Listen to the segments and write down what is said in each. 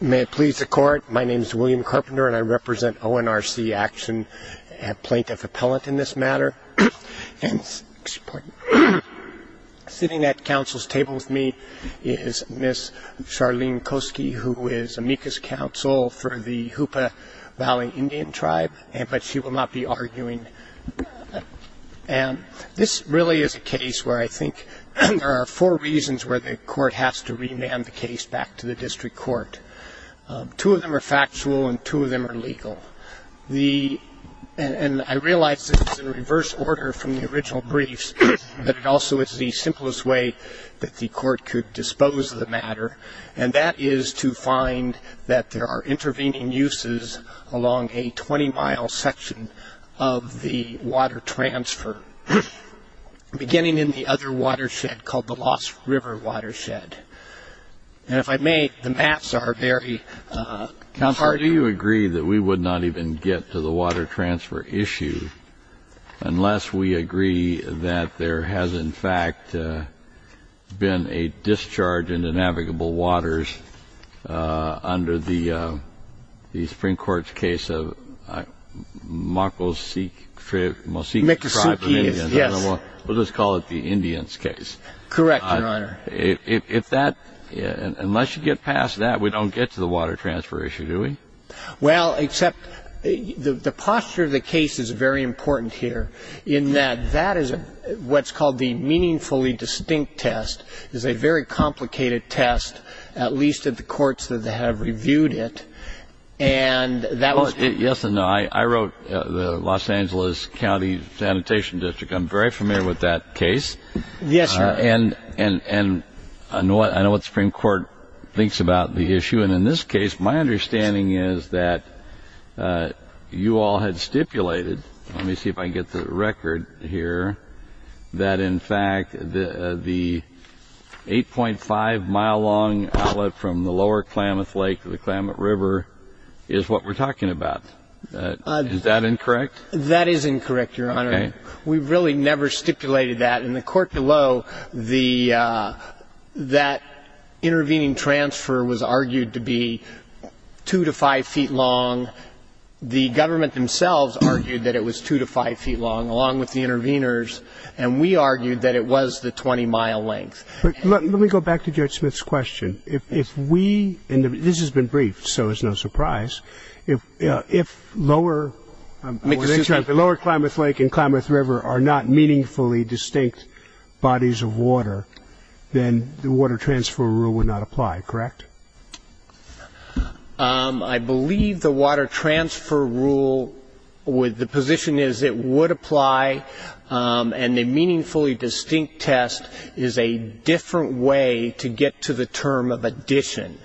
May it please the Court, my name is William Carpenter and I represent ONRC Action and Plaintiff Appellant in this matter. And sitting at counsel's table with me is Ms. Charlene Kosky, who is amicus counsel for the Hoopa Valley Indian Tribe, but she will not be arguing. And this really is a case where I think there are four reasons where the court has to remand the case back to the district court. Two of them are factual and two of them are legal. And I realize this is in reverse order from the original briefs, but it also is the simplest way that the court could dispose of the matter, and that is to find that there are intervening uses along a 20-mile section of the water transfer, beginning in the other watershed called the Lost River Watershed. And if I may, the maps are very comparative. Do you agree that we would not even get to the water transfer issue unless we agree that there has, in fact, been a discharge into navigable waters under the Supreme Court's case of Makosuke Tribe of Indians? Yes. We'll just call it the Indians case. Correct, Your Honor. Unless you get past that, we don't get to the water transfer issue, do we? Well, except the posture of the case is very important here in that that is what's called the meaningfully distinct test. It's a very complicated test, at least at the courts that have reviewed it. Yes and no. I wrote the Los Angeles County Sanitation District. I'm very familiar with that case. Yes, Your Honor. And I know what the Supreme Court thinks about the issue, and in this case my understanding is that you all had stipulated, let me see if I can get the record here, that in fact the 8.5-mile-long outlet from the lower Klamath Lake to the Klamath River is what we're talking about. Is that incorrect? That is incorrect, Your Honor. Okay. We really never stipulated that. In the court below, that intervening transfer was argued to be 2 to 5 feet long. The government themselves argued that it was 2 to 5 feet long, along with the interveners, and we argued that it was the 20-mile length. Let me go back to Judge Smith's question. If we, and this has been briefed so it's no surprise, if lower Klamath Lake and Klamath River are not meaningfully distinct bodies of water, then the water transfer rule would not apply, correct? I believe the water transfer rule, the position is it would apply, and the meaningfully distinct test is a different way to get to the term of addition.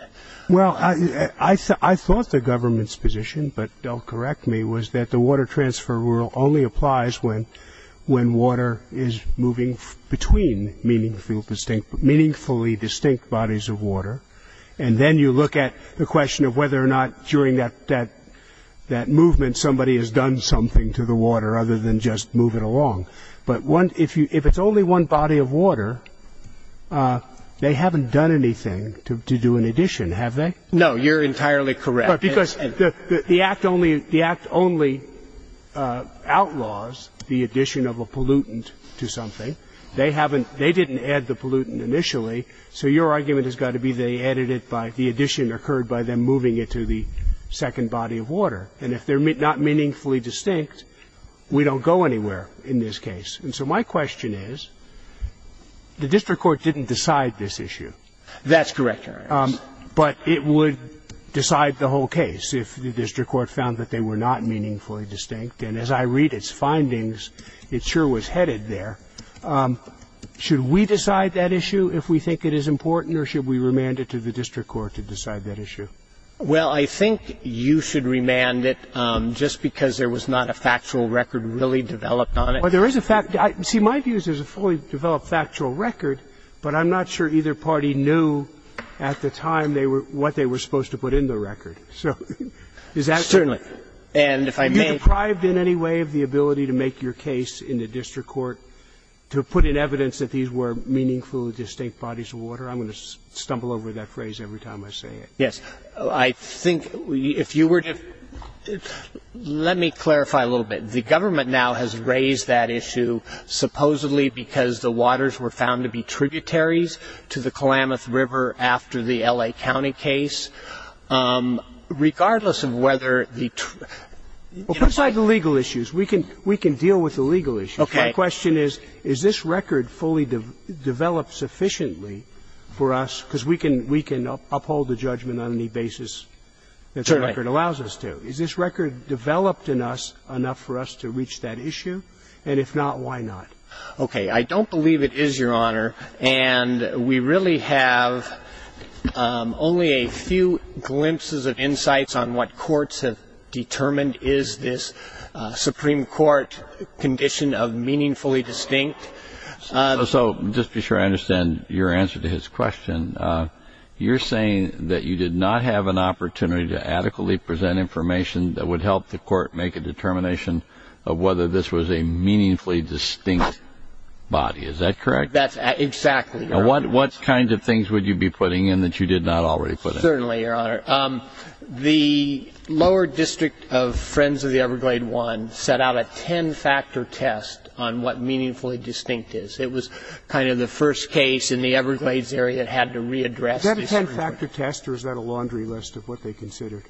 Well, I thought the government's position, but don't correct me, was that the water transfer rule only applies when water is moving between meaningfully distinct bodies of water, and then you look at the question of whether or not during that movement somebody has done something to the water other than just move it along. But if it's only one body of water, they haven't done anything to do an addition, have they? No, you're entirely correct. Because the Act only outlaws the addition of a pollutant to something. They haven't – they didn't add the pollutant initially, so your argument has got to be they added it by the addition occurred by them moving it to the second body of water. And if they're not meaningfully distinct, we don't go anywhere in this case. And so my question is, the district court didn't decide this issue. That's correct, Your Honor. But it would decide the whole case if the district court found that they were not meaningfully distinct, and as I read its findings, it sure was headed there. Should we decide that issue if we think it is important, or should we remand it to the district court to decide that issue? Well, I think you should remand it, just because there was not a factual record really developed on it. Well, there is a fact – see, my view is there's a fully developed factual record, but I'm not sure either party knew at the time they were – what they were supposed to put in the record. So is that true? Certainly. And if I may – Are you deprived in any way of the ability to make your case in the district court to put in evidence that these were meaningfully distinct bodies of water? I'm going to stumble over that phrase every time I say it. Yes. I think if you were to – let me clarify a little bit. The government now has raised that issue supposedly because the waters were found to be tributaries to the Klamath River after the L.A. County case. Regardless of whether the – Well, put aside the legal issues. We can deal with the legal issues. Okay. My question is, is this record fully developed sufficiently for us – because we can – we can uphold the judgment on any basis that the record allows us to. Is this record developed in us enough for us to reach that issue? And if not, why not? Okay. I don't believe it is, Your Honor. And we really have only a few glimpses of insights on what courts have determined is this Supreme Court condition of meaningfully distinct. So just to be sure I understand your answer to his question, you're saying that you did not have an opportunity to adequately present information that would help the court make a determination of whether this was a meaningfully distinct body. Is that correct? That's – exactly, Your Honor. And what kind of things would you be putting in that you did not already put in? Certainly, Your Honor. The lower district of Friends of the Everglades I set out a ten-factor test on what meaningfully distinct is. It was kind of the first case in the Everglades area that had to readdress this. Was that a ten-factor test, or is that a laundry list of what they considered?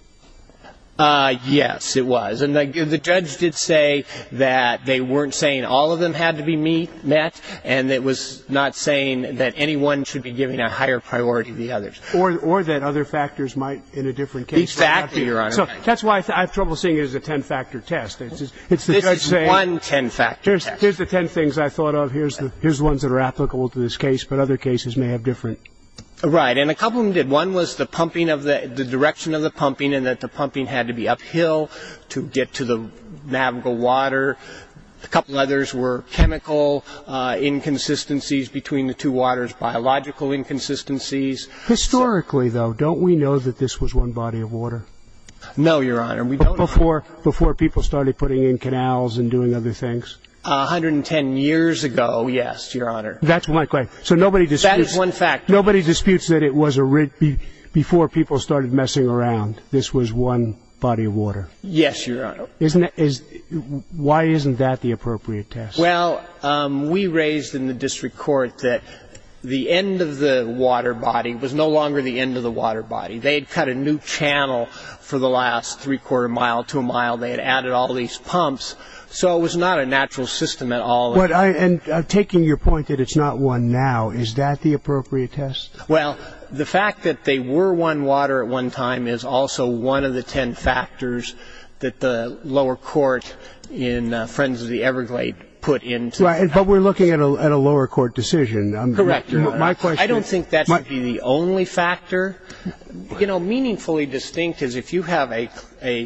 Yes, it was. And the judge did say that they weren't saying all of them had to be met, and it was not saying that anyone should be giving a higher priority to the others. Or that other factors might in a different case. Exactly, Your Honor. So that's why I have trouble seeing it as a ten-factor test. This is one ten-factor test. Here's the ten things I thought of. Here's the ones that are applicable to this case, but other cases may have different. Right. And a couple of them did. One was the pumping of the – the direction of the pumping and that the pumping had to be uphill to get to the navigable water. A couple others were chemical inconsistencies between the two waters, biological inconsistencies. Historically, though, don't we know that this was one body of water? No, Your Honor, we don't. Before people started putting in canals and doing other things? 110 years ago, yes, Your Honor. That's my question. So nobody disputes – That is one factor. Nobody disputes that it was a – before people started messing around, this was one body of water. Yes, Your Honor. Isn't it – why isn't that the appropriate test? Well, we raised in the district court that the end of the water body was no longer the end of the water body. They had cut a new channel for the last three-quarter mile to a mile. They had added all these pumps. So it was not a natural system at all. And taking your point that it's not one now, is that the appropriate test? Well, the fact that they were one water at one time is also one of the ten factors that the lower court in Friends of the Everglades put into – But we're looking at a lower court decision. Correct. My question – I don't think that should be the only factor. You know, meaningfully distinct is if you have a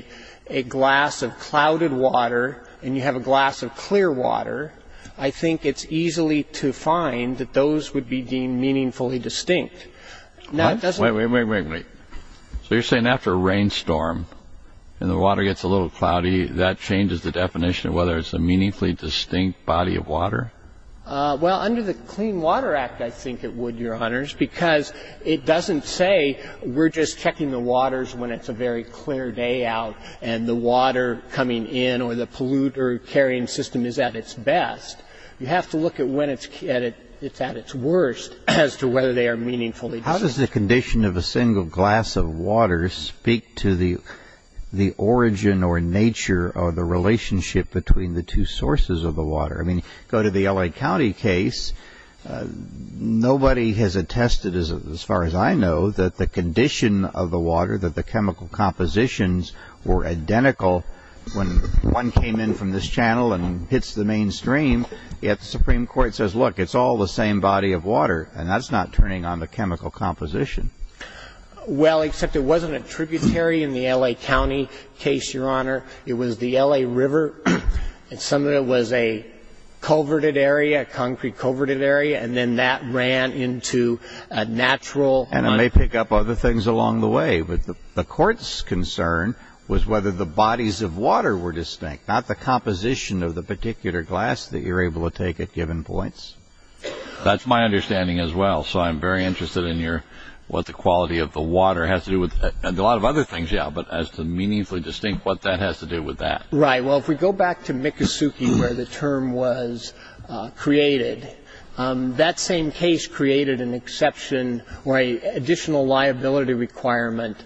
glass of clouded water and you have a glass of clear water, I think it's easily to find that those would be deemed meaningfully distinct. Now, it doesn't – Wait, wait, wait, wait, wait. So you're saying after a rainstorm and the water gets a little cloudy, that changes the definition of whether it's a meaningfully distinct body of water? Well, under the Clean Water Act, I think it would, Your Honors, because it doesn't say we're just checking the waters when it's a very clear day out and the water coming in or the polluter-carrying system is at its best. You have to look at when it's at its worst as to whether they are meaningfully distinct. How does the condition of a single glass of water speak to the origin or nature or the relationship between the two sources of the water? I mean, go to the L.A. County case, nobody has attested, as far as I know, that the condition of the water, that the chemical compositions were identical when one came in from this channel and hits the mainstream, yet the Supreme Court says, look, it's all the same body of water, and that's not turning on the chemical composition. Well, except it wasn't a tributary in the L.A. County case, Your Honor. It was the L.A. River, and some of it was a coverted area, a concrete coverted area, and then that ran into a natural... And it may pick up other things along the way, but the Court's concern was whether the bodies of water were distinct, not the composition of the particular glass that you're able to take at given points. That's my understanding as well, so I'm very interested in what the quality of the water has to do with a lot of other things, yeah, but as to meaningfully distinct what that has to do with that. Right. Well, if we go back to Miccosukee, where the term was created, that same case created an exception or an additional liability requirement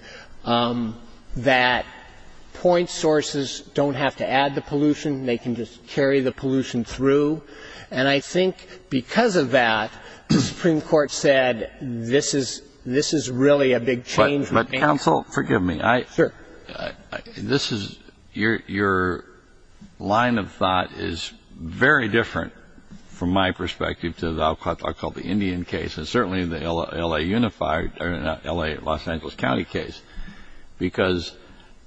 that point sources don't have to add the pollution, they can just carry the pollution through. And I think because of that, the Supreme Court said this is really a big change. But, counsel, forgive me. Sure. This is... Your line of thought is very different, from my perspective, to the Indian case, and certainly the L.A. Unified, or L.A. Los Angeles County case, because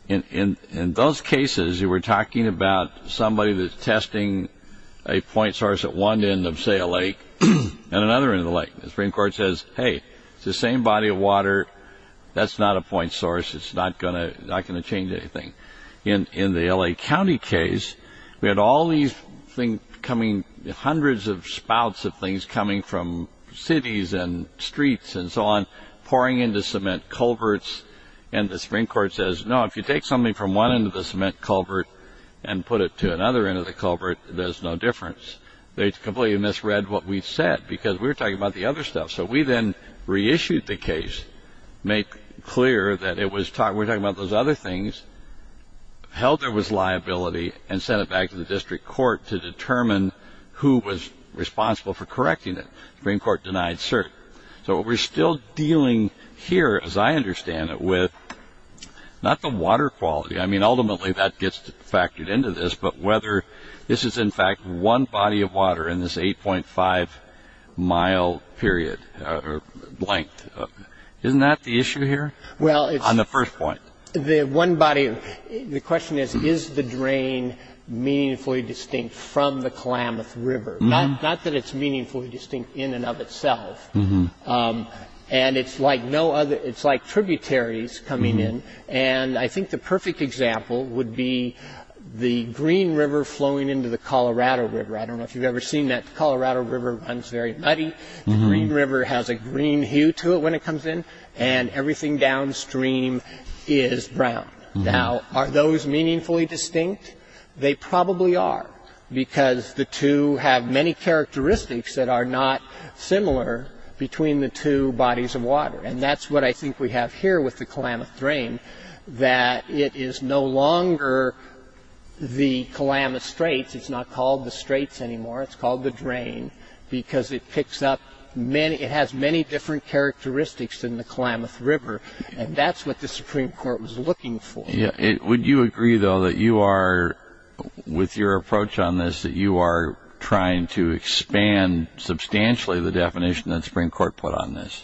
in those cases, you were talking about somebody that's testing a point source at one end of, say, a lake, and another end of the lake. The Supreme Court says, hey, it's the same body of water. That's not a point source. It's not going to change anything. In the L.A. County case, we had all these things coming, hundreds of spouts of things coming from cities and streets and so on, from end-to-cement culverts, and the Supreme Court says, no, if you take something from one end of the cement culvert and put it to another end of the culvert, there's no difference. They completely misread what we said, because we were talking about the other stuff. So we then reissued the case, made clear that we were talking about those other things, held there was liability, and sent it back to the district court to determine who was responsible for correcting it. The Supreme Court denied cert. So we're still dealing here, as I understand it, with not the water quality. I mean, ultimately, that gets factored into this, but whether this is, in fact, one body of water in this 8.5-mile period or length. Isn't that the issue here on the first point? The question is, is the drain meaningfully distinct from the Klamath River? Not that it's meaningfully distinct in and of itself. And it's like tributaries coming in, and I think the perfect example would be the Green River flowing into the Colorado River. I don't know if you've ever seen that. The Colorado River runs very muddy. The Green River has a green hue to it when it comes in, and everything downstream is brown. Now, are those meaningfully distinct? They probably are because the two have many characteristics that are not similar between the two bodies of water, and that's what I think we have here with the Klamath Drain, that it is no longer the Klamath Straits. It's not called the Straits anymore. It's called the drain because it picks up many ñ it has many different characteristics than the Klamath River, and that's what the Supreme Court was looking for. Would you agree, though, that you are, with your approach on this, that you are trying to expand substantially the definition that the Supreme Court put on this?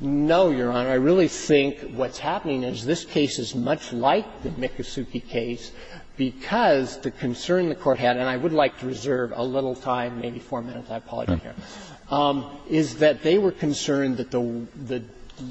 No, Your Honor. I really think what's happening is this case is much like the Miccosukee case because the concern the Court had, and I would like to reserve a little time, maybe four minutes, I apologize, is that they were concerned that the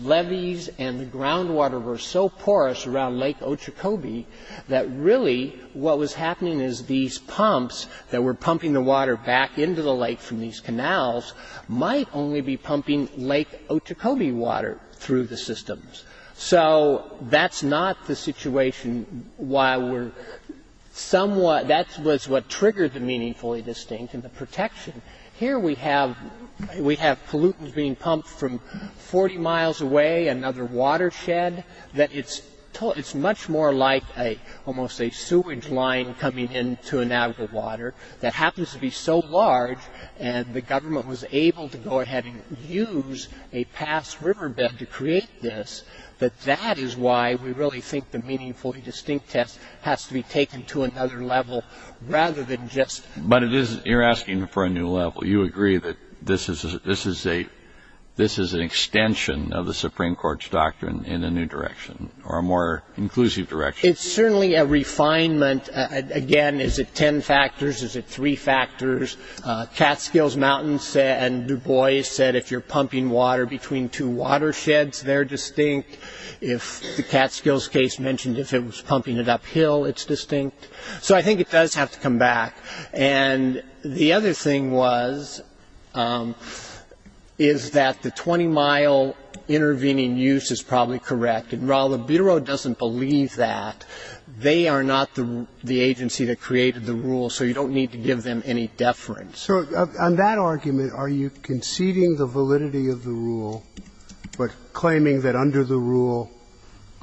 levees and the groundwater were so porous around Lake Ochecobee that really what was happening is these pumps that were pumping the water back into the lake from these canals might only be pumping Lake Ochecobee water through the systems. So that's not the situation why we're somewhat ñ that was what triggered the meaningfully distinct and the protection. Here we have pollutants being pumped from 40 miles away, another watershed, that it's much more like almost a sewage line coming into and out of the water that happens to be so large and the government was able to go ahead and use a past riverbed to create this, that that is why we really think the meaningfully distinct test has to be taken to another level rather than just ñ But it is ñ you're asking for a new level. You agree that this is an extension of the Supreme Court's doctrine in a new direction or a more inclusive direction. It's certainly a refinement. Again, is it ten factors, is it three factors? Catskills Mountains and Dubois said if you're pumping water between two watersheds, they're distinct. If the Catskills case mentioned if it was pumping it uphill, it's distinct. So I think it does have to come back. And the other thing was, is that the 20-mile intervening use is probably correct. And while the Bureau doesn't believe that, they are not the agency that created the rule, so you don't need to give them any deference. So on that argument, are you conceding the validity of the rule but claiming that under the rule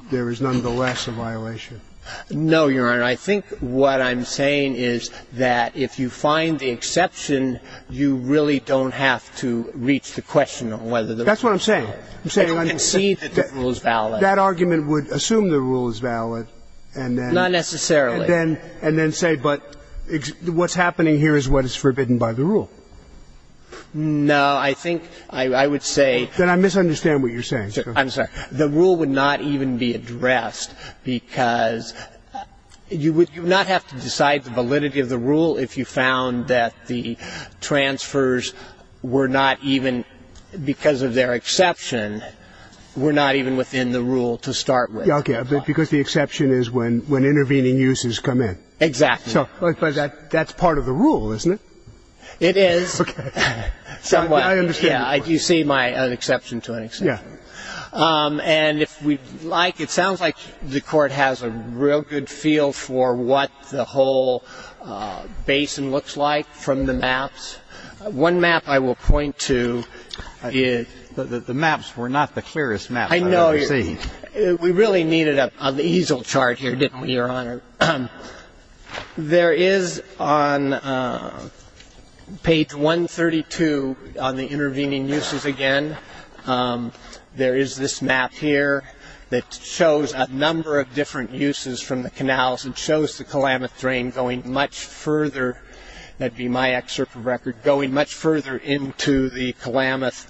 there is nonetheless a violation? No, Your Honor. I think what I'm saying is that if you find the exception, you really don't have to reach the question of whether the rule is valid. That's what I'm saying. I'm saying ñ Concede that the rule is valid. That argument would assume the rule is valid and then ñ Not necessarily. And then say, but what's happening here is what is forbidden by the rule. No. I think I would say ñ Then I misunderstand what you're saying. I'm sorry. The rule would not even be addressed because you would not have to decide the validity of the rule if you found that the transfers were not even, because of their exception, were not even within the rule to start with. Okay. Because the exception is when intervening uses come in. Exactly. So that's part of the rule, isn't it? It is. Okay. I understand. Yeah. You see my ñ an exception to an exception. Yeah. And if we like, it sounds like the Court has a real good feel for what the whole basin looks like from the maps. One map I will point to is ñ The maps were not the clearest map I've ever seen. I know. We really needed an easel chart here, didn't we, Your Honor? There is on page 132 on the intervening uses again, there is this map here that shows a number of different uses from the canals and shows the Kalamath Drain going much further ñ that would be my excerpt from the record ñ going much further into the Kalamath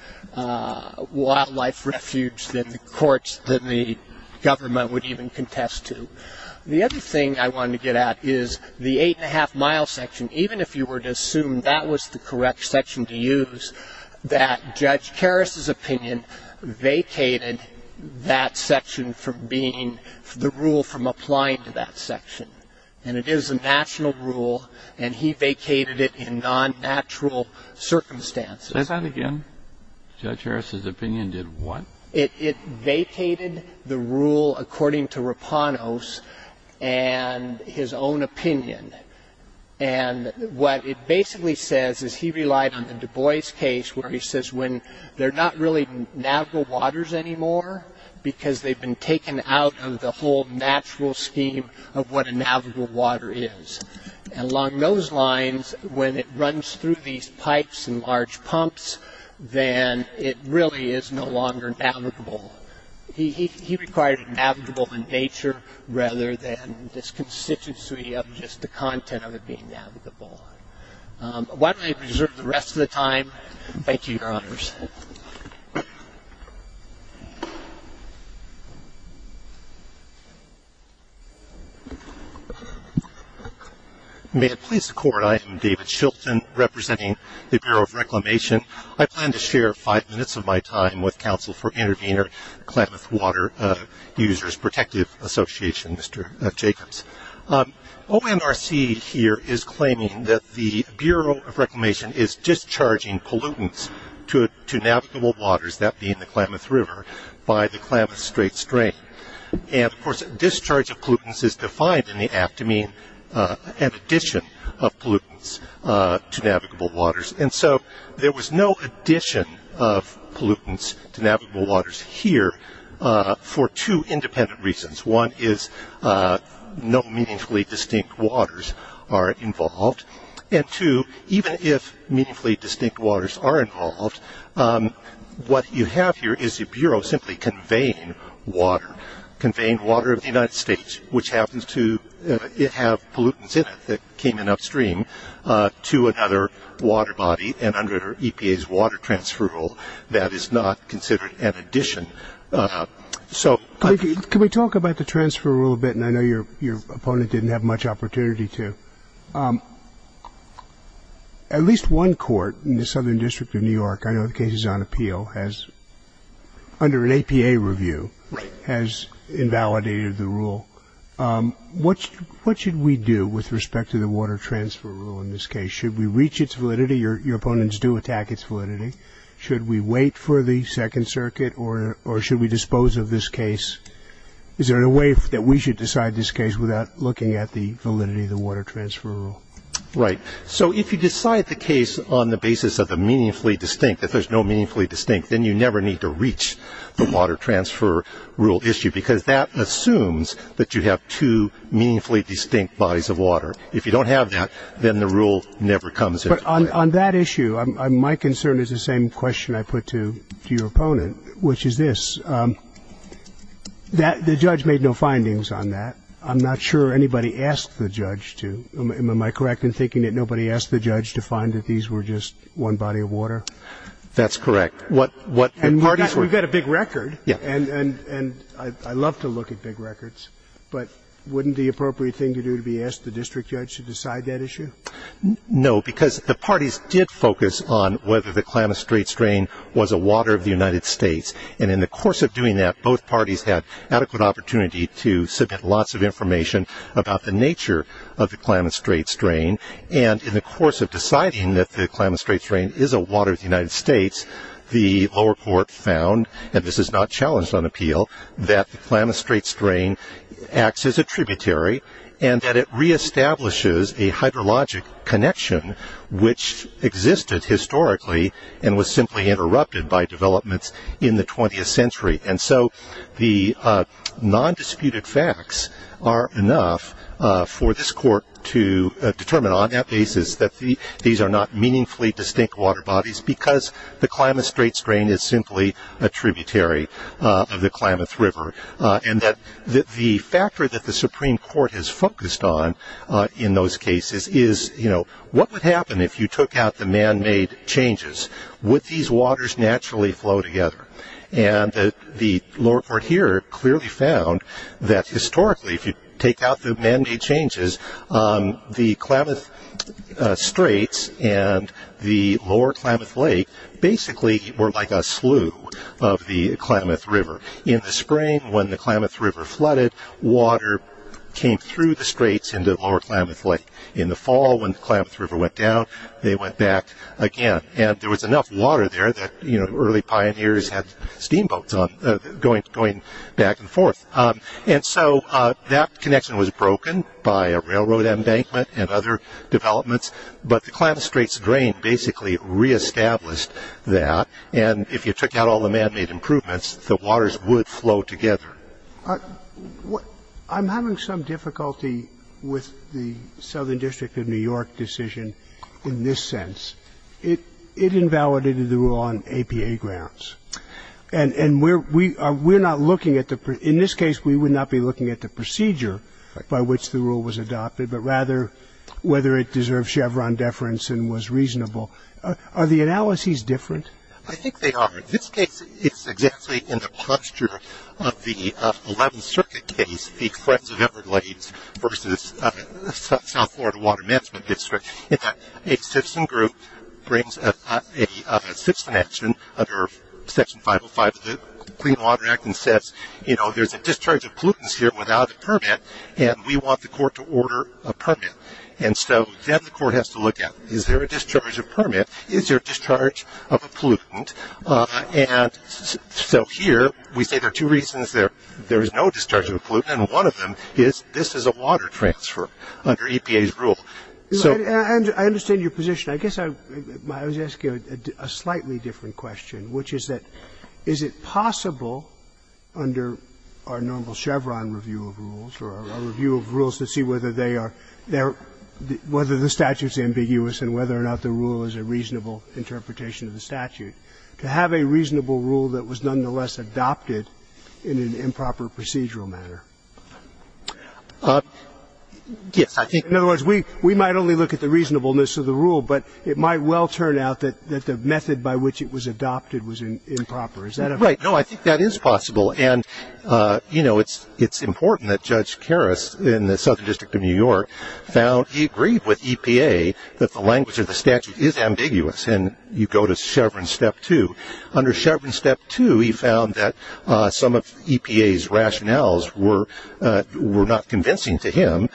Wildlife Refuge than the courts, than the government would even contest to. The other thing I wanted to get at is the eight-and-a-half-mile section. Even if you were to assume that was the correct section to use, that Judge Karras's opinion vacated that section from being ñ the rule from applying to that section. And it is a national rule, and he vacated it in non-natural circumstances. Say that again? Judge Karras's opinion did what? It vacated the rule according to Rapanos and his own opinion. And what it basically says is he relied on the Du Bois case where he says when they're not really navigable waters anymore because they've been taken out of the whole natural scheme of what a navigable water is. And along those lines, when it runs through these pipes and large pumps, then it really is no longer navigable. He required it navigable in nature rather than this constituency of just the content of it being navigable. Why don't I reserve the rest of the time? Thank you, Your Honors. May it please the Court, I am David Shilton, representing the Bureau of Reclamation. I plan to share five minutes of my time with Counsel for Intervenor Klamath Water Users Protective Association, Mr. Jacobs. OMRC here is claiming that the Bureau of Reclamation is discharging pollutants to navigable waters, that being the Klamath River, by the Klamath Strait Strain. And, of course, discharge of pollutants is defined in the act to mean an addition of pollutants to navigable waters. And so there was no addition of pollutants to navigable waters here for two independent reasons. One is no meaningfully distinct waters are involved. And two, even if meaningfully distinct waters are involved, what you have here is the Bureau simply conveying water, conveying water of the United States, which happens to have pollutants in it that came in upstream to another water body, and under EPA's water transfer rule, that is not considered an addition. Can we talk about the transfer rule a bit? And I know your opponent didn't have much opportunity to. At least one court in the Southern District of New York, I know the case is on appeal, has, under an APA review, has invalidated the rule. What should we do with respect to the water transfer rule in this case? Should we reach its validity? Your opponents do attack its validity. Should we wait for the Second Circuit, or should we dispose of this case? Is there a way that we should decide this case without looking at the validity of the water transfer rule? Right. So if you decide the case on the basis of the meaningfully distinct, if there's no meaningfully distinct, then you never need to reach the water transfer rule issue, because that assumes that you have two meaningfully distinct bodies of water. If you don't have that, then the rule never comes into play. But on that issue, my concern is the same question I put to your opponent, which is this. The judge made no findings on that. I'm not sure anybody asked the judge to. Am I correct in thinking that nobody asked the judge to find that these were just one body of water? That's correct. And we've got a big record. Yes. And I love to look at big records, but wouldn't the appropriate thing to do to be asked the district judge to decide that issue? No, because the parties did focus on whether the Klamath Straits drain was a water of the United States. And in the course of doing that, both parties had adequate opportunity to submit lots of information about the nature of the Klamath Straits drain. And in the course of deciding that the Klamath Straits drain is a water of the United States, the lower court found, and this is not challenged on appeal, that the Klamath Straits drain acts as a tributary and that it reestablishes a hydrologic connection, which existed historically and was simply interrupted by developments in the 20th century. And so the non-disputed facts are enough for this court to determine on that basis that these are not meaningfully distinct water bodies because the Klamath Straits drain is simply a tributary of the Klamath River. And that the factor that the Supreme Court has focused on in those cases is, you know, what would happen if you took out the man-made changes? Would these waters naturally flow together? And the lower court here clearly found that historically, if you take out the man-made changes, the Klamath Straits and the lower Klamath Lake basically were like a slew of the Klamath River. In the spring, when the Klamath River flooded, water came through the Straits into the lower Klamath Lake. In the fall, when the Klamath River went down, they went back again. And there was enough water there that early pioneers had steamboats going back and forth. And so that connection was broken by a railroad embankment and other developments. But the Klamath Straits drain basically reestablished that. And if you took out all the man-made improvements, the waters would flow together. I'm having some difficulty with the Southern District of New York decision in this sense. It invalidated the rule on APA grounds. And in this case, we would not be looking at the procedure by which the rule was adopted, but rather whether it deserved Chevron deference and was reasonable. Are the analyses different? I think they are. In this case, it's exactly in the posture of the 11th Circuit case, the Friends of Everglades versus South Florida Water Management District, in that a citizen group brings a citizen action under Section 505 of the Clean Water Act and says, you know, there's a discharge of pollutants here without a permit, and we want the court to order a permit. And so then the court has to look at, is there a discharge of permit? Is there a discharge of a pollutant? And so here we say there are two reasons there is no discharge of a pollutant, and one of them is this is a water transfer under EPA's rule. I understand your position. I guess I was asking a slightly different question, which is that, is it possible under our normal Chevron review of rules or our review of rules to see whether they are there, whether the statute is ambiguous and whether or not the rule is a reasonable interpretation of the statute, to have a reasonable rule that was nonetheless adopted in an improper procedural manner? Yes, I think. In other words, we might only look at the reasonableness of the rule, but it might well turn out that the method by which it was adopted was improper. Right. No, I think that is possible, and, you know, it's important that Judge Karras in the Southern District of New York found he agreed with EPA that the language of the statute is ambiguous, and you go to Chevron Step 2. Under Chevron Step 2, he found that some of EPA's rationales were not convincing to him.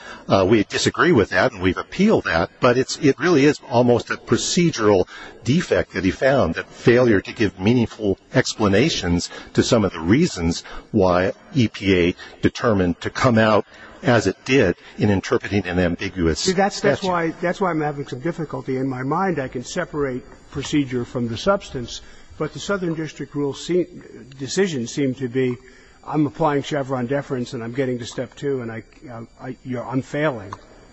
We disagree with that, and we've appealed that, but it really is almost a procedural defect that he found, that failure to give meaningful explanations to some of the reasons why EPA determined to come out as it did in interpreting an ambiguous statute. See, that's why I'm having some difficulty. In my mind, I can separate procedure from the substance, but the Southern District rule decisions seem to be I'm applying Chevron deference and I'm getting to Step 2 and I'm failing.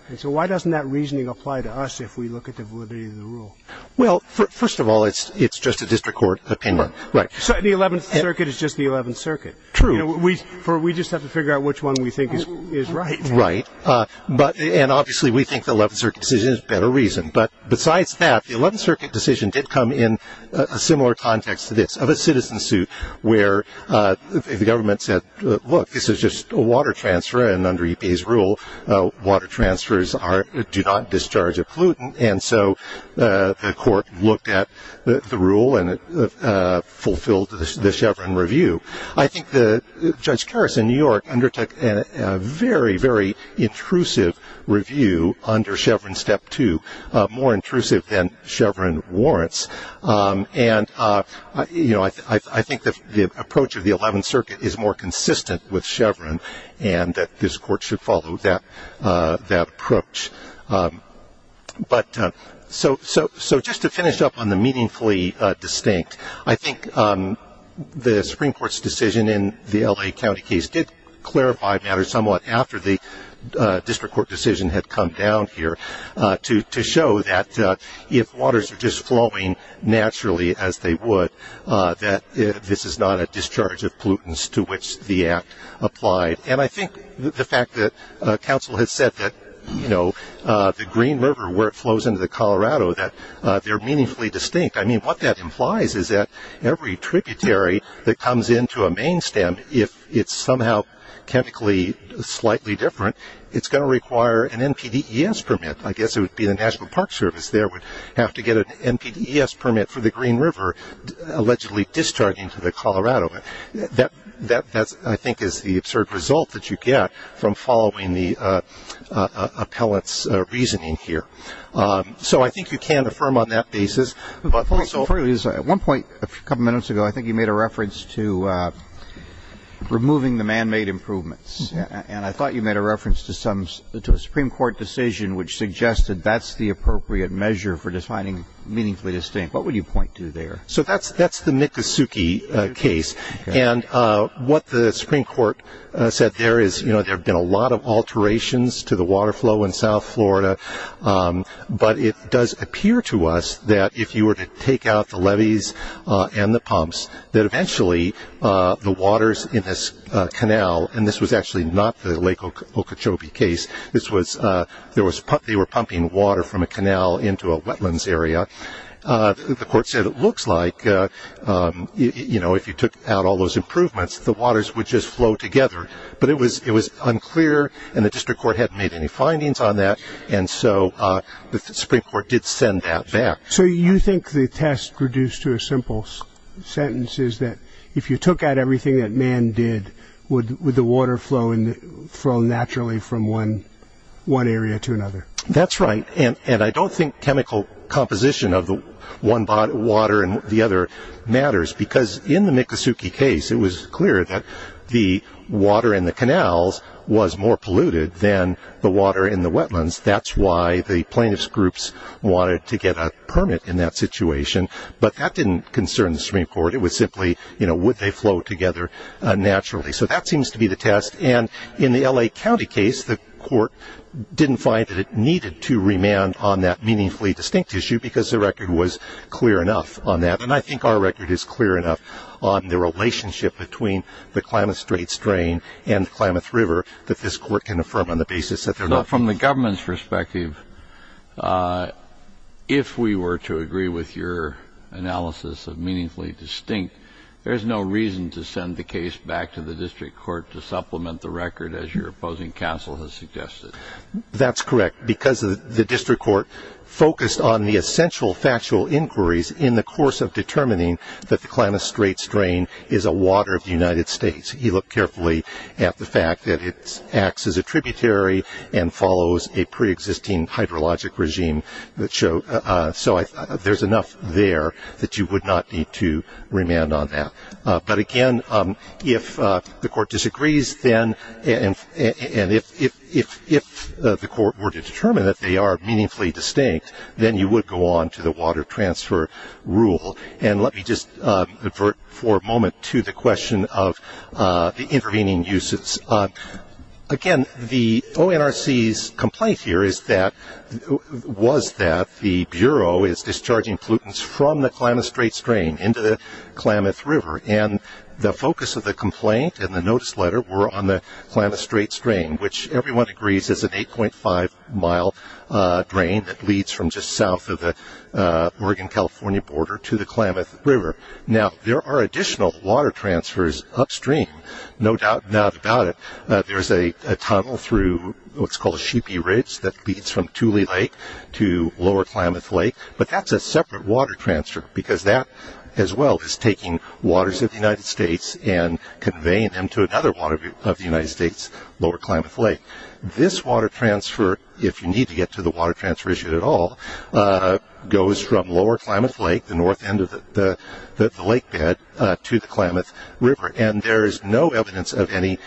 And so why doesn't that reasoning apply to us if we look at the validity of the rule? Well, first of all, it's just a district court opinion. Right. The Eleventh Circuit is just the Eleventh Circuit. True. We just have to figure out which one we think is right. Right. And obviously, we think the Eleventh Circuit decision is a better reason. But besides that, the Eleventh Circuit decision did come in a similar context to this, of a citizen suit where the government said, look, this is just a water transfer, and under EPA's rule, water transfers do not discharge a pollutant, and so the court looked at the rule and it fulfilled the Chevron review. I think Judge Karas in New York undertook a very, very intrusive review under Chevron Step 2, more intrusive than Chevron warrants, and I think the approach of the Eleventh Circuit is more consistent with Chevron and that this court should follow that approach. But so just to finish up on the meaningfully distinct, I think the Supreme Court's decision in the L.A. County case did clarify matters somewhat after the district court decision had come down here to show that if waters are just flowing naturally as they would, that this is not a discharge of pollutants to which the act applied. And I think the fact that counsel has said that, you know, the Green River, where it flows into the Colorado, that they're meaningfully distinct. I mean, what that implies is that every tributary that comes into a main stem, if it's somehow chemically slightly different, it's going to require an NPDES permit. I guess it would be the National Park Service there would have to get an NPDES permit for the Green River allegedly discharging to the Colorado. That, I think, is the absurd result that you get from following the appellate's reasoning here. So I think you can affirm on that basis. At one point a couple minutes ago, I think you made a reference to removing the man-made improvements, and I thought you made a reference to a Supreme Court decision which suggested that's the appropriate measure for defining meaningfully distinct. What would you point to there? So that's the Miccosukee case. And what the Supreme Court said there is, you know, there have been a lot of alterations to the water flow in South Florida, but it does appear to us that if you were to take out the levees and the pumps, that eventually the waters in this canal, and this was actually not the Lake Okeechobee case, this was they were pumping water from a canal into a wetlands area. The court said it looks like, you know, if you took out all those improvements, the waters would just flow together. But it was unclear and the district court hadn't made any findings on that, and so the Supreme Court did send that back. So you think the test reduced to a simple sentence is that if you took out everything that man did, would the water flow naturally from one area to another? That's right. And I don't think chemical composition of the one water and the other matters, because in the Miccosukee case it was clear that the water in the canals was more polluted than the water in the wetlands. That's why the plaintiff's groups wanted to get a permit in that situation. But that didn't concern the Supreme Court. It was simply, you know, would they flow together naturally? So that seems to be the test. And in the L.A. County case, the court didn't find that it needed to remand on that meaningfully distinct issue because the record was clear enough on that. And I think our record is clear enough on the relationship between the Klamath Strait strain and the Klamath River that this court can affirm on the basis that they're not. From the government's perspective, if we were to agree with your analysis of meaningfully distinct, there's no reason to send the case back to the district court to supplement the record, as your opposing counsel has suggested. That's correct, because the district court focused on the essential factual inquiries in the course of determining that the Klamath Strait strain is a water of the United States. You look carefully at the fact that it acts as a tributary and follows a preexisting hydrologic regime. So there's enough there that you would not need to remand on that. But, again, if the court disagrees, and if the court were to determine that they are meaningfully distinct, then you would go on to the water transfer rule. And let me just avert for a moment to the question of the intervening uses. Again, the ONRC's complaint here was that the Bureau is discharging pollutants from the Klamath Strait strain into the Klamath River, and the focus of the complaint and the notice letter were on the Klamath Strait strain, which everyone agrees is an 8.5-mile drain that leads from just south of the Oregon-California border to the Klamath River. Now, there are additional water transfers upstream. No doubt about it, there's a tunnel through what's called a Sheepy Ridge that leads from Tule Lake to Lower Klamath Lake, but that's a separate water transfer because that as well is taking waters of the United States and conveying them to another water of the United States, Lower Klamath Lake. This water transfer, if you need to get to the water transfer issue at all, goes from Lower Klamath Lake, the north end of the lake bed, to the Klamath River. And there is no evidence of any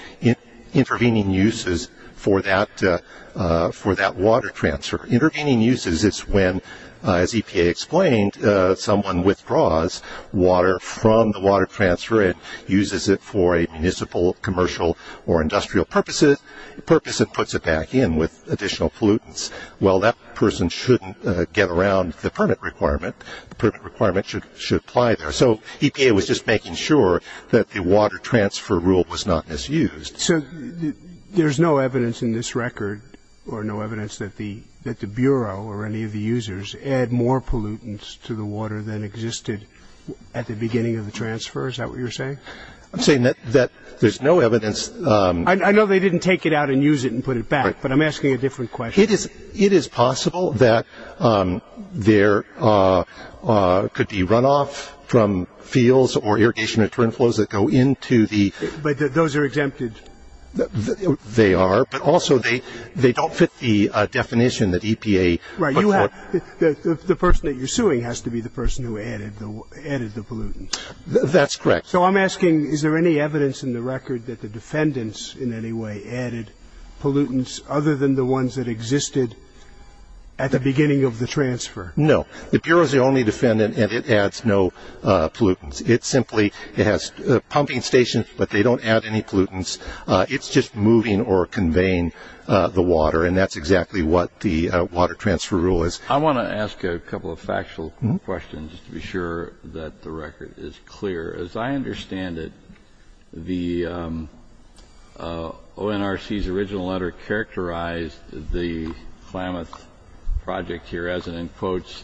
intervening uses for that water transfer. Intervening uses is when, as EPA explained, someone withdraws water from the water transfer and uses it for a municipal, commercial, or industrial purpose and puts it back in with additional pollutants. Well, that person shouldn't get around the permit requirement. The permit requirement should apply there. So EPA was just making sure that the water transfer rule was not misused. So there's no evidence in this record or no evidence that the Bureau or any of the users add more pollutants to the water than existed at the beginning of the transfer? Is that what you're saying? I'm saying that there's no evidence. I know they didn't take it out and use it and put it back, but I'm asking a different question. It is possible that there could be runoff from fields or irrigation return flows that go into the ____. But those are exempted. They are, but also they don't fit the definition that EPA ____. Right. The person that you're suing has to be the person who added the pollutants. That's correct. So I'm asking, is there any evidence in the record that the defendants in any way added pollutants other than the ones that existed at the beginning of the transfer? No. The Bureau is the only defendant, and it adds no pollutants. It simply has pumping stations, but they don't add any pollutants. It's just moving or conveying the water, and that's exactly what the water transfer rule is. I want to ask a couple of factual questions just to be sure that the record is clear. As I understand it, the ONRC's original letter characterized the Klamath project here as an, in quotes,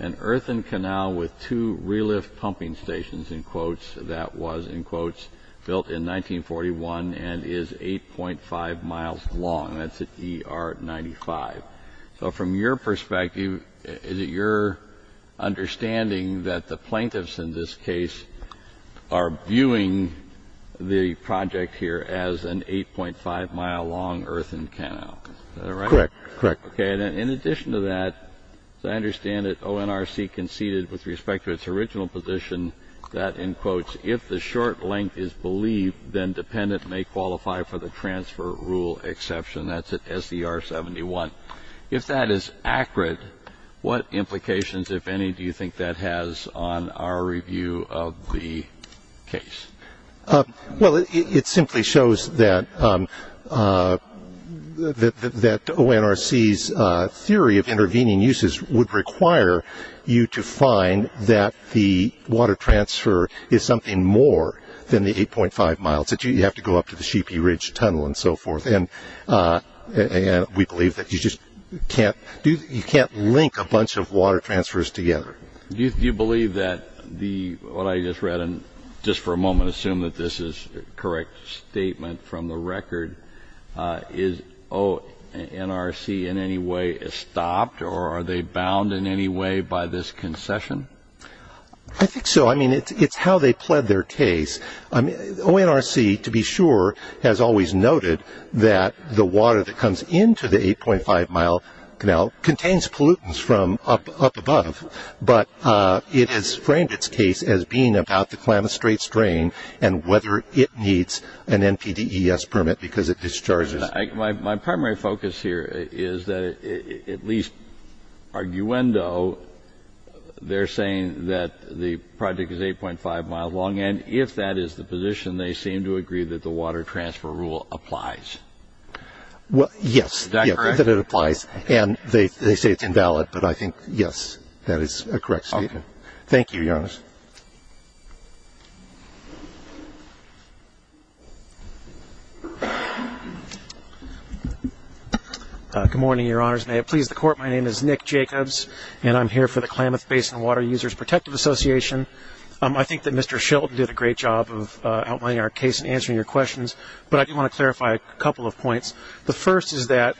an earthen canal with two relift pumping stations, in quotes, that was, in quotes, built in 1941 and is 8.5 miles long. That's at ER 95. So from your perspective, is it your understanding that the plaintiffs in this case are viewing the project here as an 8.5-mile-long earthen canal? Is that right? Correct. Okay. And in addition to that, as I understand it, ONRC conceded with respect to its original position that, in quotes, if the short length is believed, then dependent may qualify for the transfer rule exception. That's at SDR 71. If that is accurate, what implications, if any, do you think that has on our review of the case? Well, it simply shows that ONRC's theory of intervening uses would require you to find that the water transfer is something more than the 8.5 miles. You have to go up to the Sheepy Ridge Tunnel and so forth. And we believe that you just can't link a bunch of water transfers together. Do you believe that what I just read, and just for a moment assume that this is a correct statement from the record, is ONRC in any way stopped or are they bound in any way by this concession? I think so. I mean, it's how they pled their case. ONRC, to be sure, has always noted that the water that comes into the 8.5-mile canal contains pollutants from up above, but it has framed its case as being about the Calamit Strait's drain and whether it needs an NPDES permit because it discharges. My primary focus here is that at least arguendo, they're saying that the project is 8.5-mile long, and if that is the position, they seem to agree that the water transfer rule applies. Is that correct? And they say it's invalid, but I think, yes, that is a correct statement. Thank you, Your Honor. Good morning, Your Honors. May it please the Court, my name is Nick Jacobs, and I'm here for the Klamath Basin Water Users Protective Association. I think that Mr. Sheldon did a great job of outlining our case and answering your questions, but I do want to clarify a couple of points. The first is that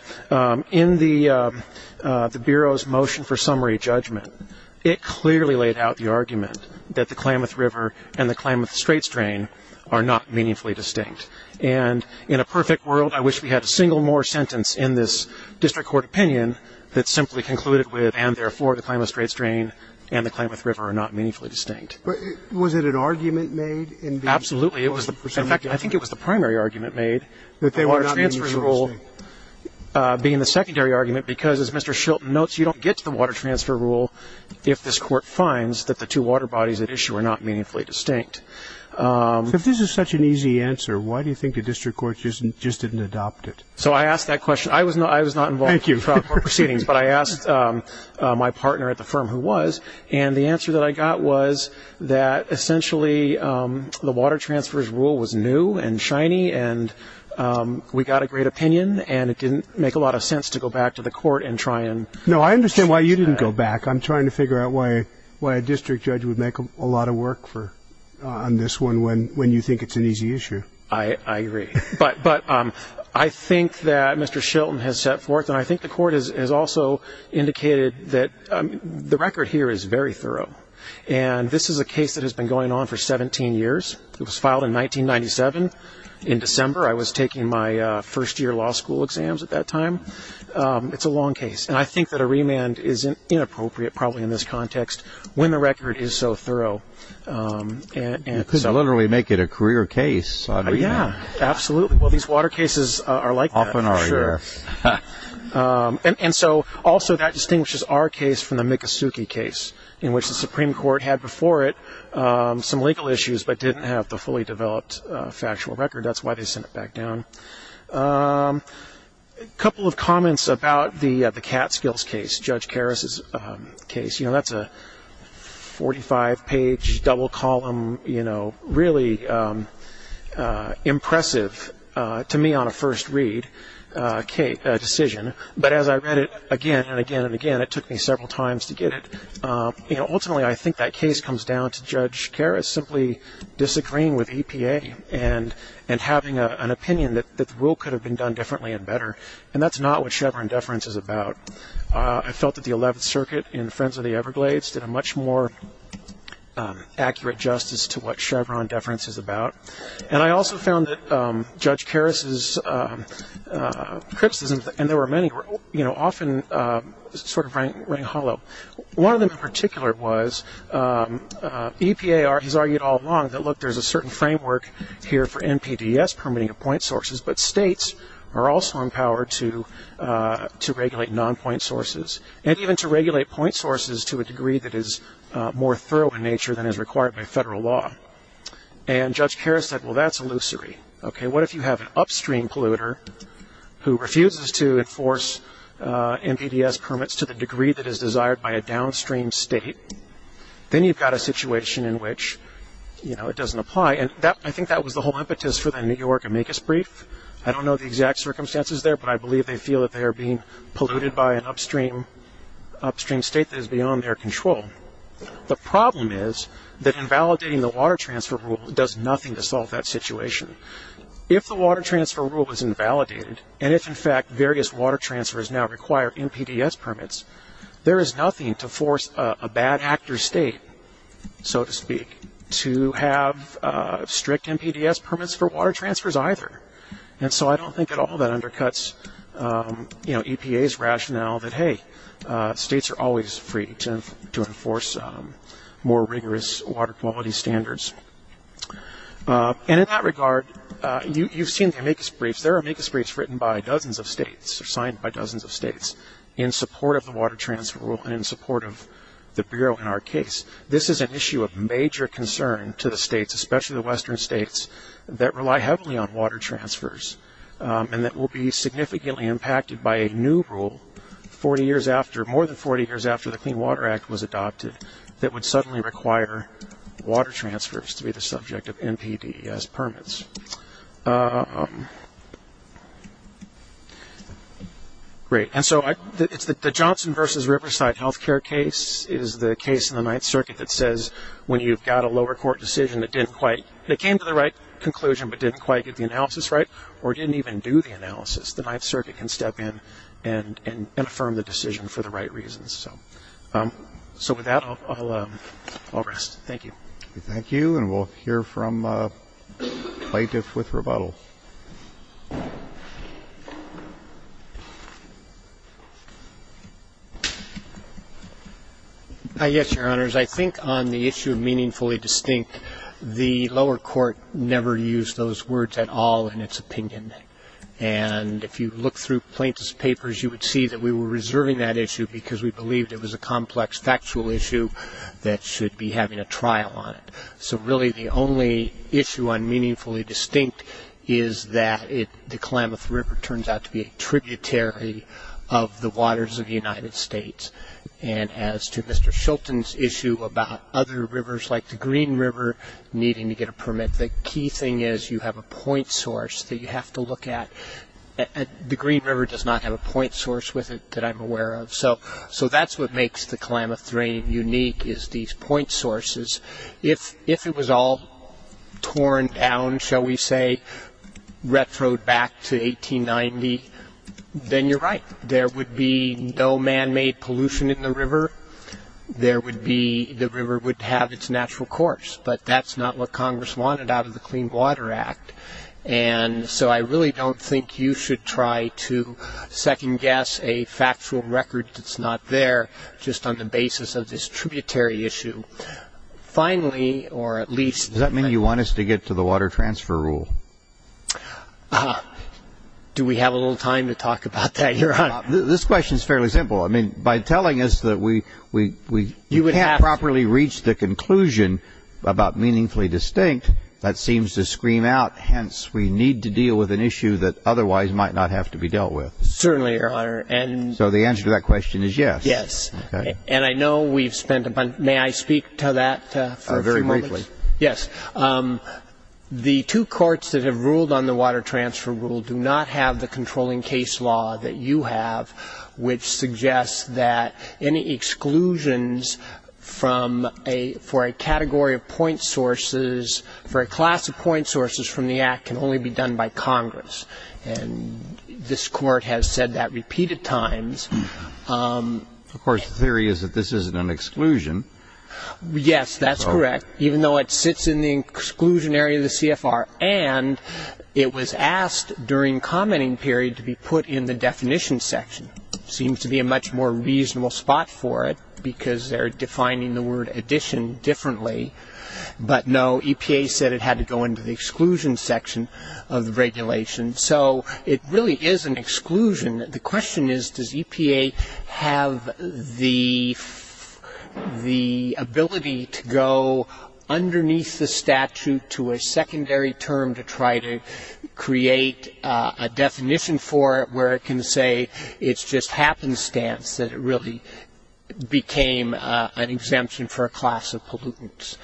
in the Bureau's motion for summary judgment, it clearly laid out the argument that the Klamath River and the Klamath Strait's drain are not meaningfully distinct. And in a perfect world, I wish we had a single more sentence in this district court opinion that simply concluded with, and therefore, the Klamath Strait's drain and the Klamath River are not meaningfully distinct. Was it an argument made? Absolutely. In fact, I think it was the primary argument made, the water transfer rule being the secondary argument, because, as Mr. Sheldon notes, you don't get to the water transfer rule if this Court finds that the two water bodies at issue are not meaningfully distinct. If this is such an easy answer, why do you think the district court just didn't adopt it? So I asked that question. I was not involved in the trial court proceedings, but I asked my partner at the firm who was, and the answer that I got was that essentially the water transfer's rule was new and shiny, and we got a great opinion, and it didn't make a lot of sense to go back to the court and try and fix that. No, I understand why you didn't go back. I'm trying to figure out why a district judge would make a lot of work on this one when you think it's an easy issue. I agree. But I think that Mr. Sheldon has set forth, and I think the court has also indicated that the record here is very thorough, and this is a case that has been going on for 17 years. It was filed in 1997 in December. I was taking my first-year law school exams at that time. It's a long case, and I think that a remand is inappropriate probably in this context when the record is so thorough. You could literally make it a career case. Yeah, absolutely. Well, these water cases are like that. Oh, yeah. And so also that distinguishes our case from the Mikosuke case, in which the Supreme Court had before it some legal issues but didn't have the fully developed factual record. That's why they sent it back down. A couple of comments about the Catskills case, Judge Karras' case. You know, that's a 45-page double column, you know, really impressive to me on a first read decision. But as I read it again and again and again, it took me several times to get it. You know, ultimately I think that case comes down to Judge Karras simply disagreeing with EPA and having an opinion that the rule could have been done differently and better, and that's not what Chevron deference is about. I felt that the 11th Circuit in Friends of the Everglades did a much more accurate justice to what Chevron deference is about. And I also found that Judge Karras' criticisms, and there were many, you know, often sort of rang hollow. One of them in particular was EPA has argued all along that, look, there's a certain framework here for NPDES permitting of point sources, but states are also empowered to regulate non-point sources, and even to regulate point sources to a degree that is more thorough in nature than is required by federal law. And Judge Karras said, well, that's illusory. Okay, what if you have an upstream polluter who refuses to enforce NPDES permits to the degree that is desired by a downstream state? Then you've got a situation in which, you know, it doesn't apply. And I think that was the whole impetus for the New York amicus brief. I don't know the exact circumstances there, but I believe they feel that they are being polluted by an upstream state that is beyond their control. The problem is that invalidating the water transfer rule does nothing to solve that situation. If the water transfer rule is invalidated, and if, in fact, various water transfers now require NPDES permits, there is nothing to force a bad actor state, so to speak, to have strict NPDES permits for water transfers either. And so I don't think at all that undercuts EPA's rationale that, hey, states are always free to enforce more rigorous water quality standards. And in that regard, you've seen the amicus briefs. There are amicus briefs written by dozens of states or signed by dozens of states in support of the water transfer rule and in support of the Bureau in our case. This is an issue of major concern to the states, especially the western states, that rely heavily on water transfers and that will be significantly impacted by a new rule 40 years after, more than 40 years after the Clean Water Act was adopted, that would suddenly require water transfers to be the subject of NPDES permits. Great. And so the Johnson v. Riverside health care case is the case in the Ninth Circuit that says, when you've got a lower court decision that didn't quite, that came to the right conclusion but didn't quite get the analysis right or didn't even do the analysis, the Ninth Circuit can step in and affirm the decision for the right reasons. So with that, I'll rest. Thank you. Thank you. And we'll hear from Plaintiff with rebuttal. Yes, Your Honors. I think on the issue of meaningfully distinct, the lower court never used those words at all in its opinion. And if you look through Plaintiff's papers, you would see that we were reserving that issue because we believed it was a complex factual issue that should be having a trial on it. So really the only issue on meaningfully distinct is that it, the Klamath River turns out to be a tributary of the waters of the United States. And as to Mr. Shilton's issue about other rivers like the Green River needing to get a permit, the key thing is you have a point source that you have to look at. The Green River does not have a point source with it that I'm aware of. So that's what makes the Klamath Drain unique is these point sources. If it was all torn down, shall we say, retro back to 1890, then you're right. There would be no manmade pollution in the river. There would be, the river would have its natural course. But that's not what Congress wanted out of the Clean Water Act. And so I really don't think you should try to second guess a factual record that's not there just on the basis of this tributary issue. Finally, or at least. Does that mean you want us to get to the water transfer rule? Do we have a little time to talk about that, Your Honor? This question is fairly simple. I mean, by telling us that we can't properly reach the conclusion about meaningfully distinct, that seems to scream out, hence, we need to deal with an issue that otherwise might not have to be dealt with. Certainly, Your Honor. So the answer to that question is yes. Yes. And I know we've spent a bunch. May I speak to that for a few moments? Very briefly. Yes. The two courts that have ruled on the water transfer rule do not have the controlling case law that you have, which suggests that any exclusions for a category of point sources, for a class of point sources from the Act, can only be done by Congress. And this Court has said that repeated times. Of course, the theory is that this isn't an exclusion. Yes, that's correct, even though it sits in the exclusionary of the CFR. And it was asked during commenting period to be put in the definition section. Seems to be a much more reasonable spot for it because they're defining the word addition differently. But no, EPA said it had to go into the exclusion section of the regulation. So it really is an exclusion. The question is, does EPA have the ability to go underneath the statute to a secondary term to try to create a definition for it where it can say it's just happenstance that it really became an exemption for a class of pollutants.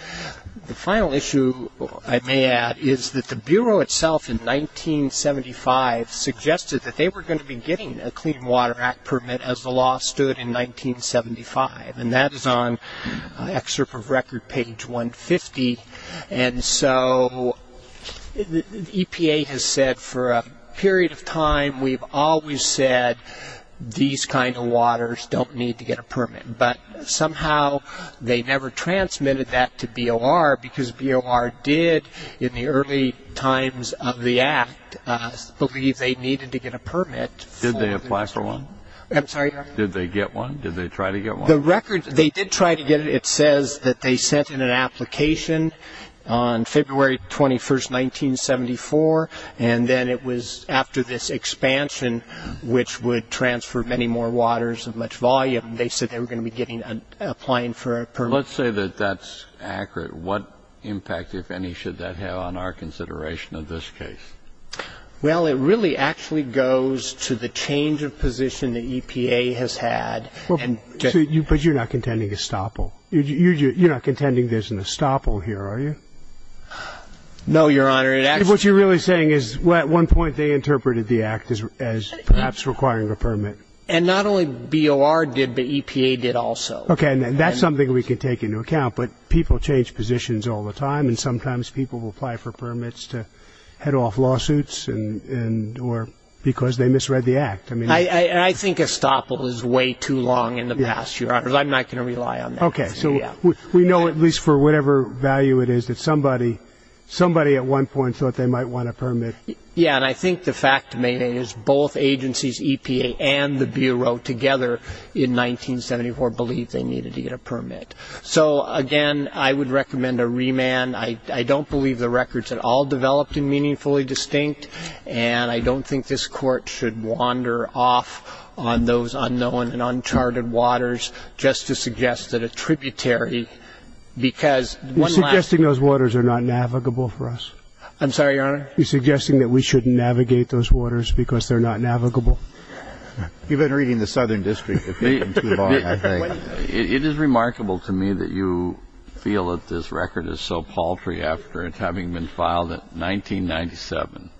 The final issue, I may add, is that the Bureau itself in 1975 suggested that they were going to be getting a Clean Water Act permit as the law stood in 1975. And that is on excerpt of record page 150. And so EPA has said for a period of time, we've always said these kind of waters don't need to get a permit. But somehow they never transmitted that to BOR because BOR did in the early times of the act believe they needed to get a permit. Did they apply for one? I'm sorry? Did they get one? Did they try to get one? The record, they did try to get it. It says that they sent in an application on February 21, 1974. And then it was after this expansion, which would transfer many more waters of much volume, they said they were going to be applying for a permit. And let's say that that's accurate. What impact, if any, should that have on our consideration of this case? Well, it really actually goes to the change of position that EPA has had. But you're not contending estoppel. You're not contending there's an estoppel here, are you? No, Your Honor. What you're really saying is at one point they interpreted the act as perhaps requiring a permit. And not only BOR did, but EPA did also. Okay. And that's something we can take into account. But people change positions all the time. And sometimes people will apply for permits to head off lawsuits or because they misread the act. I think estoppel is way too long in the past, Your Honor. I'm not going to rely on that. Okay. So we know at least for whatever value it is that somebody at one point thought they might want a permit. Yeah, and I think the fact is both agencies, EPA and the Bureau, together in 1974 believed they needed to get a permit. So, again, I would recommend a remand. I don't believe the record's at all developed and meaningfully distinct. And I don't think this Court should wander off on those unknown and uncharted waters just to suggest that a tributary, because one last thing. You're suggesting those waters are not navigable for us. I'm sorry, Your Honor? You're suggesting that we shouldn't navigate those waters because they're not navigable. You've been reading the Southern District for too long, I think. It is remarkable to me that you feel that this record is so paltry after it having been filed in 1997.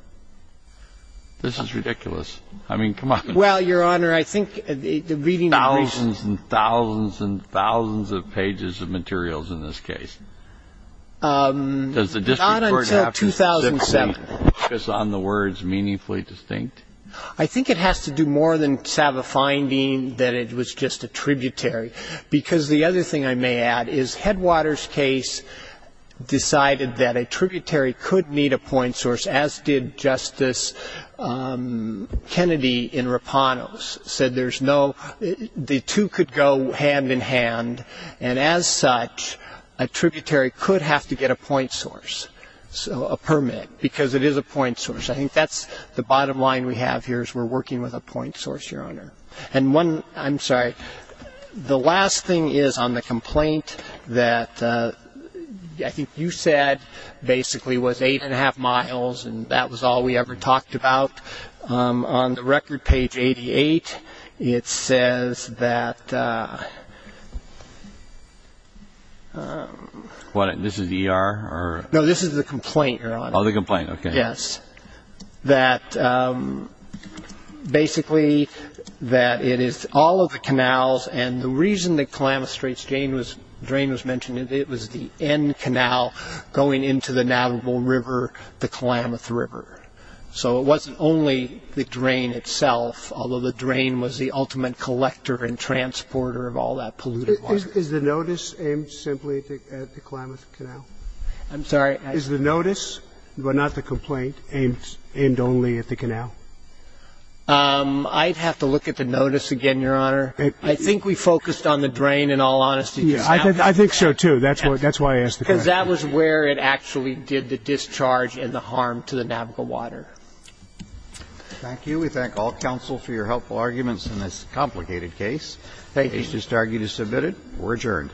This is ridiculous. I mean, come on. Well, Your Honor, I think the reading of recent – Thousands and thousands and thousands of pages of materials in this case. Does the District Court have to specifically focus on the words meaningfully distinct? I think it has to do more than just have a finding that it was just a tributary, because the other thing I may add is Headwaters' case decided that a tributary could need a point source, as did Justice Kennedy in Rapanos, said there's no – the two could go hand in hand. And as such, a tributary could have to get a point source, a permit, because it is a point source. I think that's the bottom line we have here is we're working with a point source, Your Honor. And one – I'm sorry. The last thing is on the complaint that I think you said basically was eight and a half miles, and that was all we ever talked about. On the record page 88, it says that – What, this is ER or – No, this is the complaint, Your Honor. Oh, the complaint, okay. Yes, that basically that it is all of the canals, and the reason the Klamath Straits drain was mentioned, it was the end canal going into the Navajo River, the Klamath River. So it wasn't only the drain itself, although the drain was the ultimate collector and transporter of all that polluted water. Is the notice aimed simply at the Klamath Canal? I'm sorry. Is the notice, but not the complaint, aimed only at the canal? I'd have to look at the notice again, Your Honor. I think we focused on the drain in all honesty. I think so, too. That's why I asked the question. Because that was where it actually did the discharge and the harm to the Navajo water. Thank you. We thank all counsel for your helpful arguments in this complicated case. Thank you. The case is submitted. We're adjourned.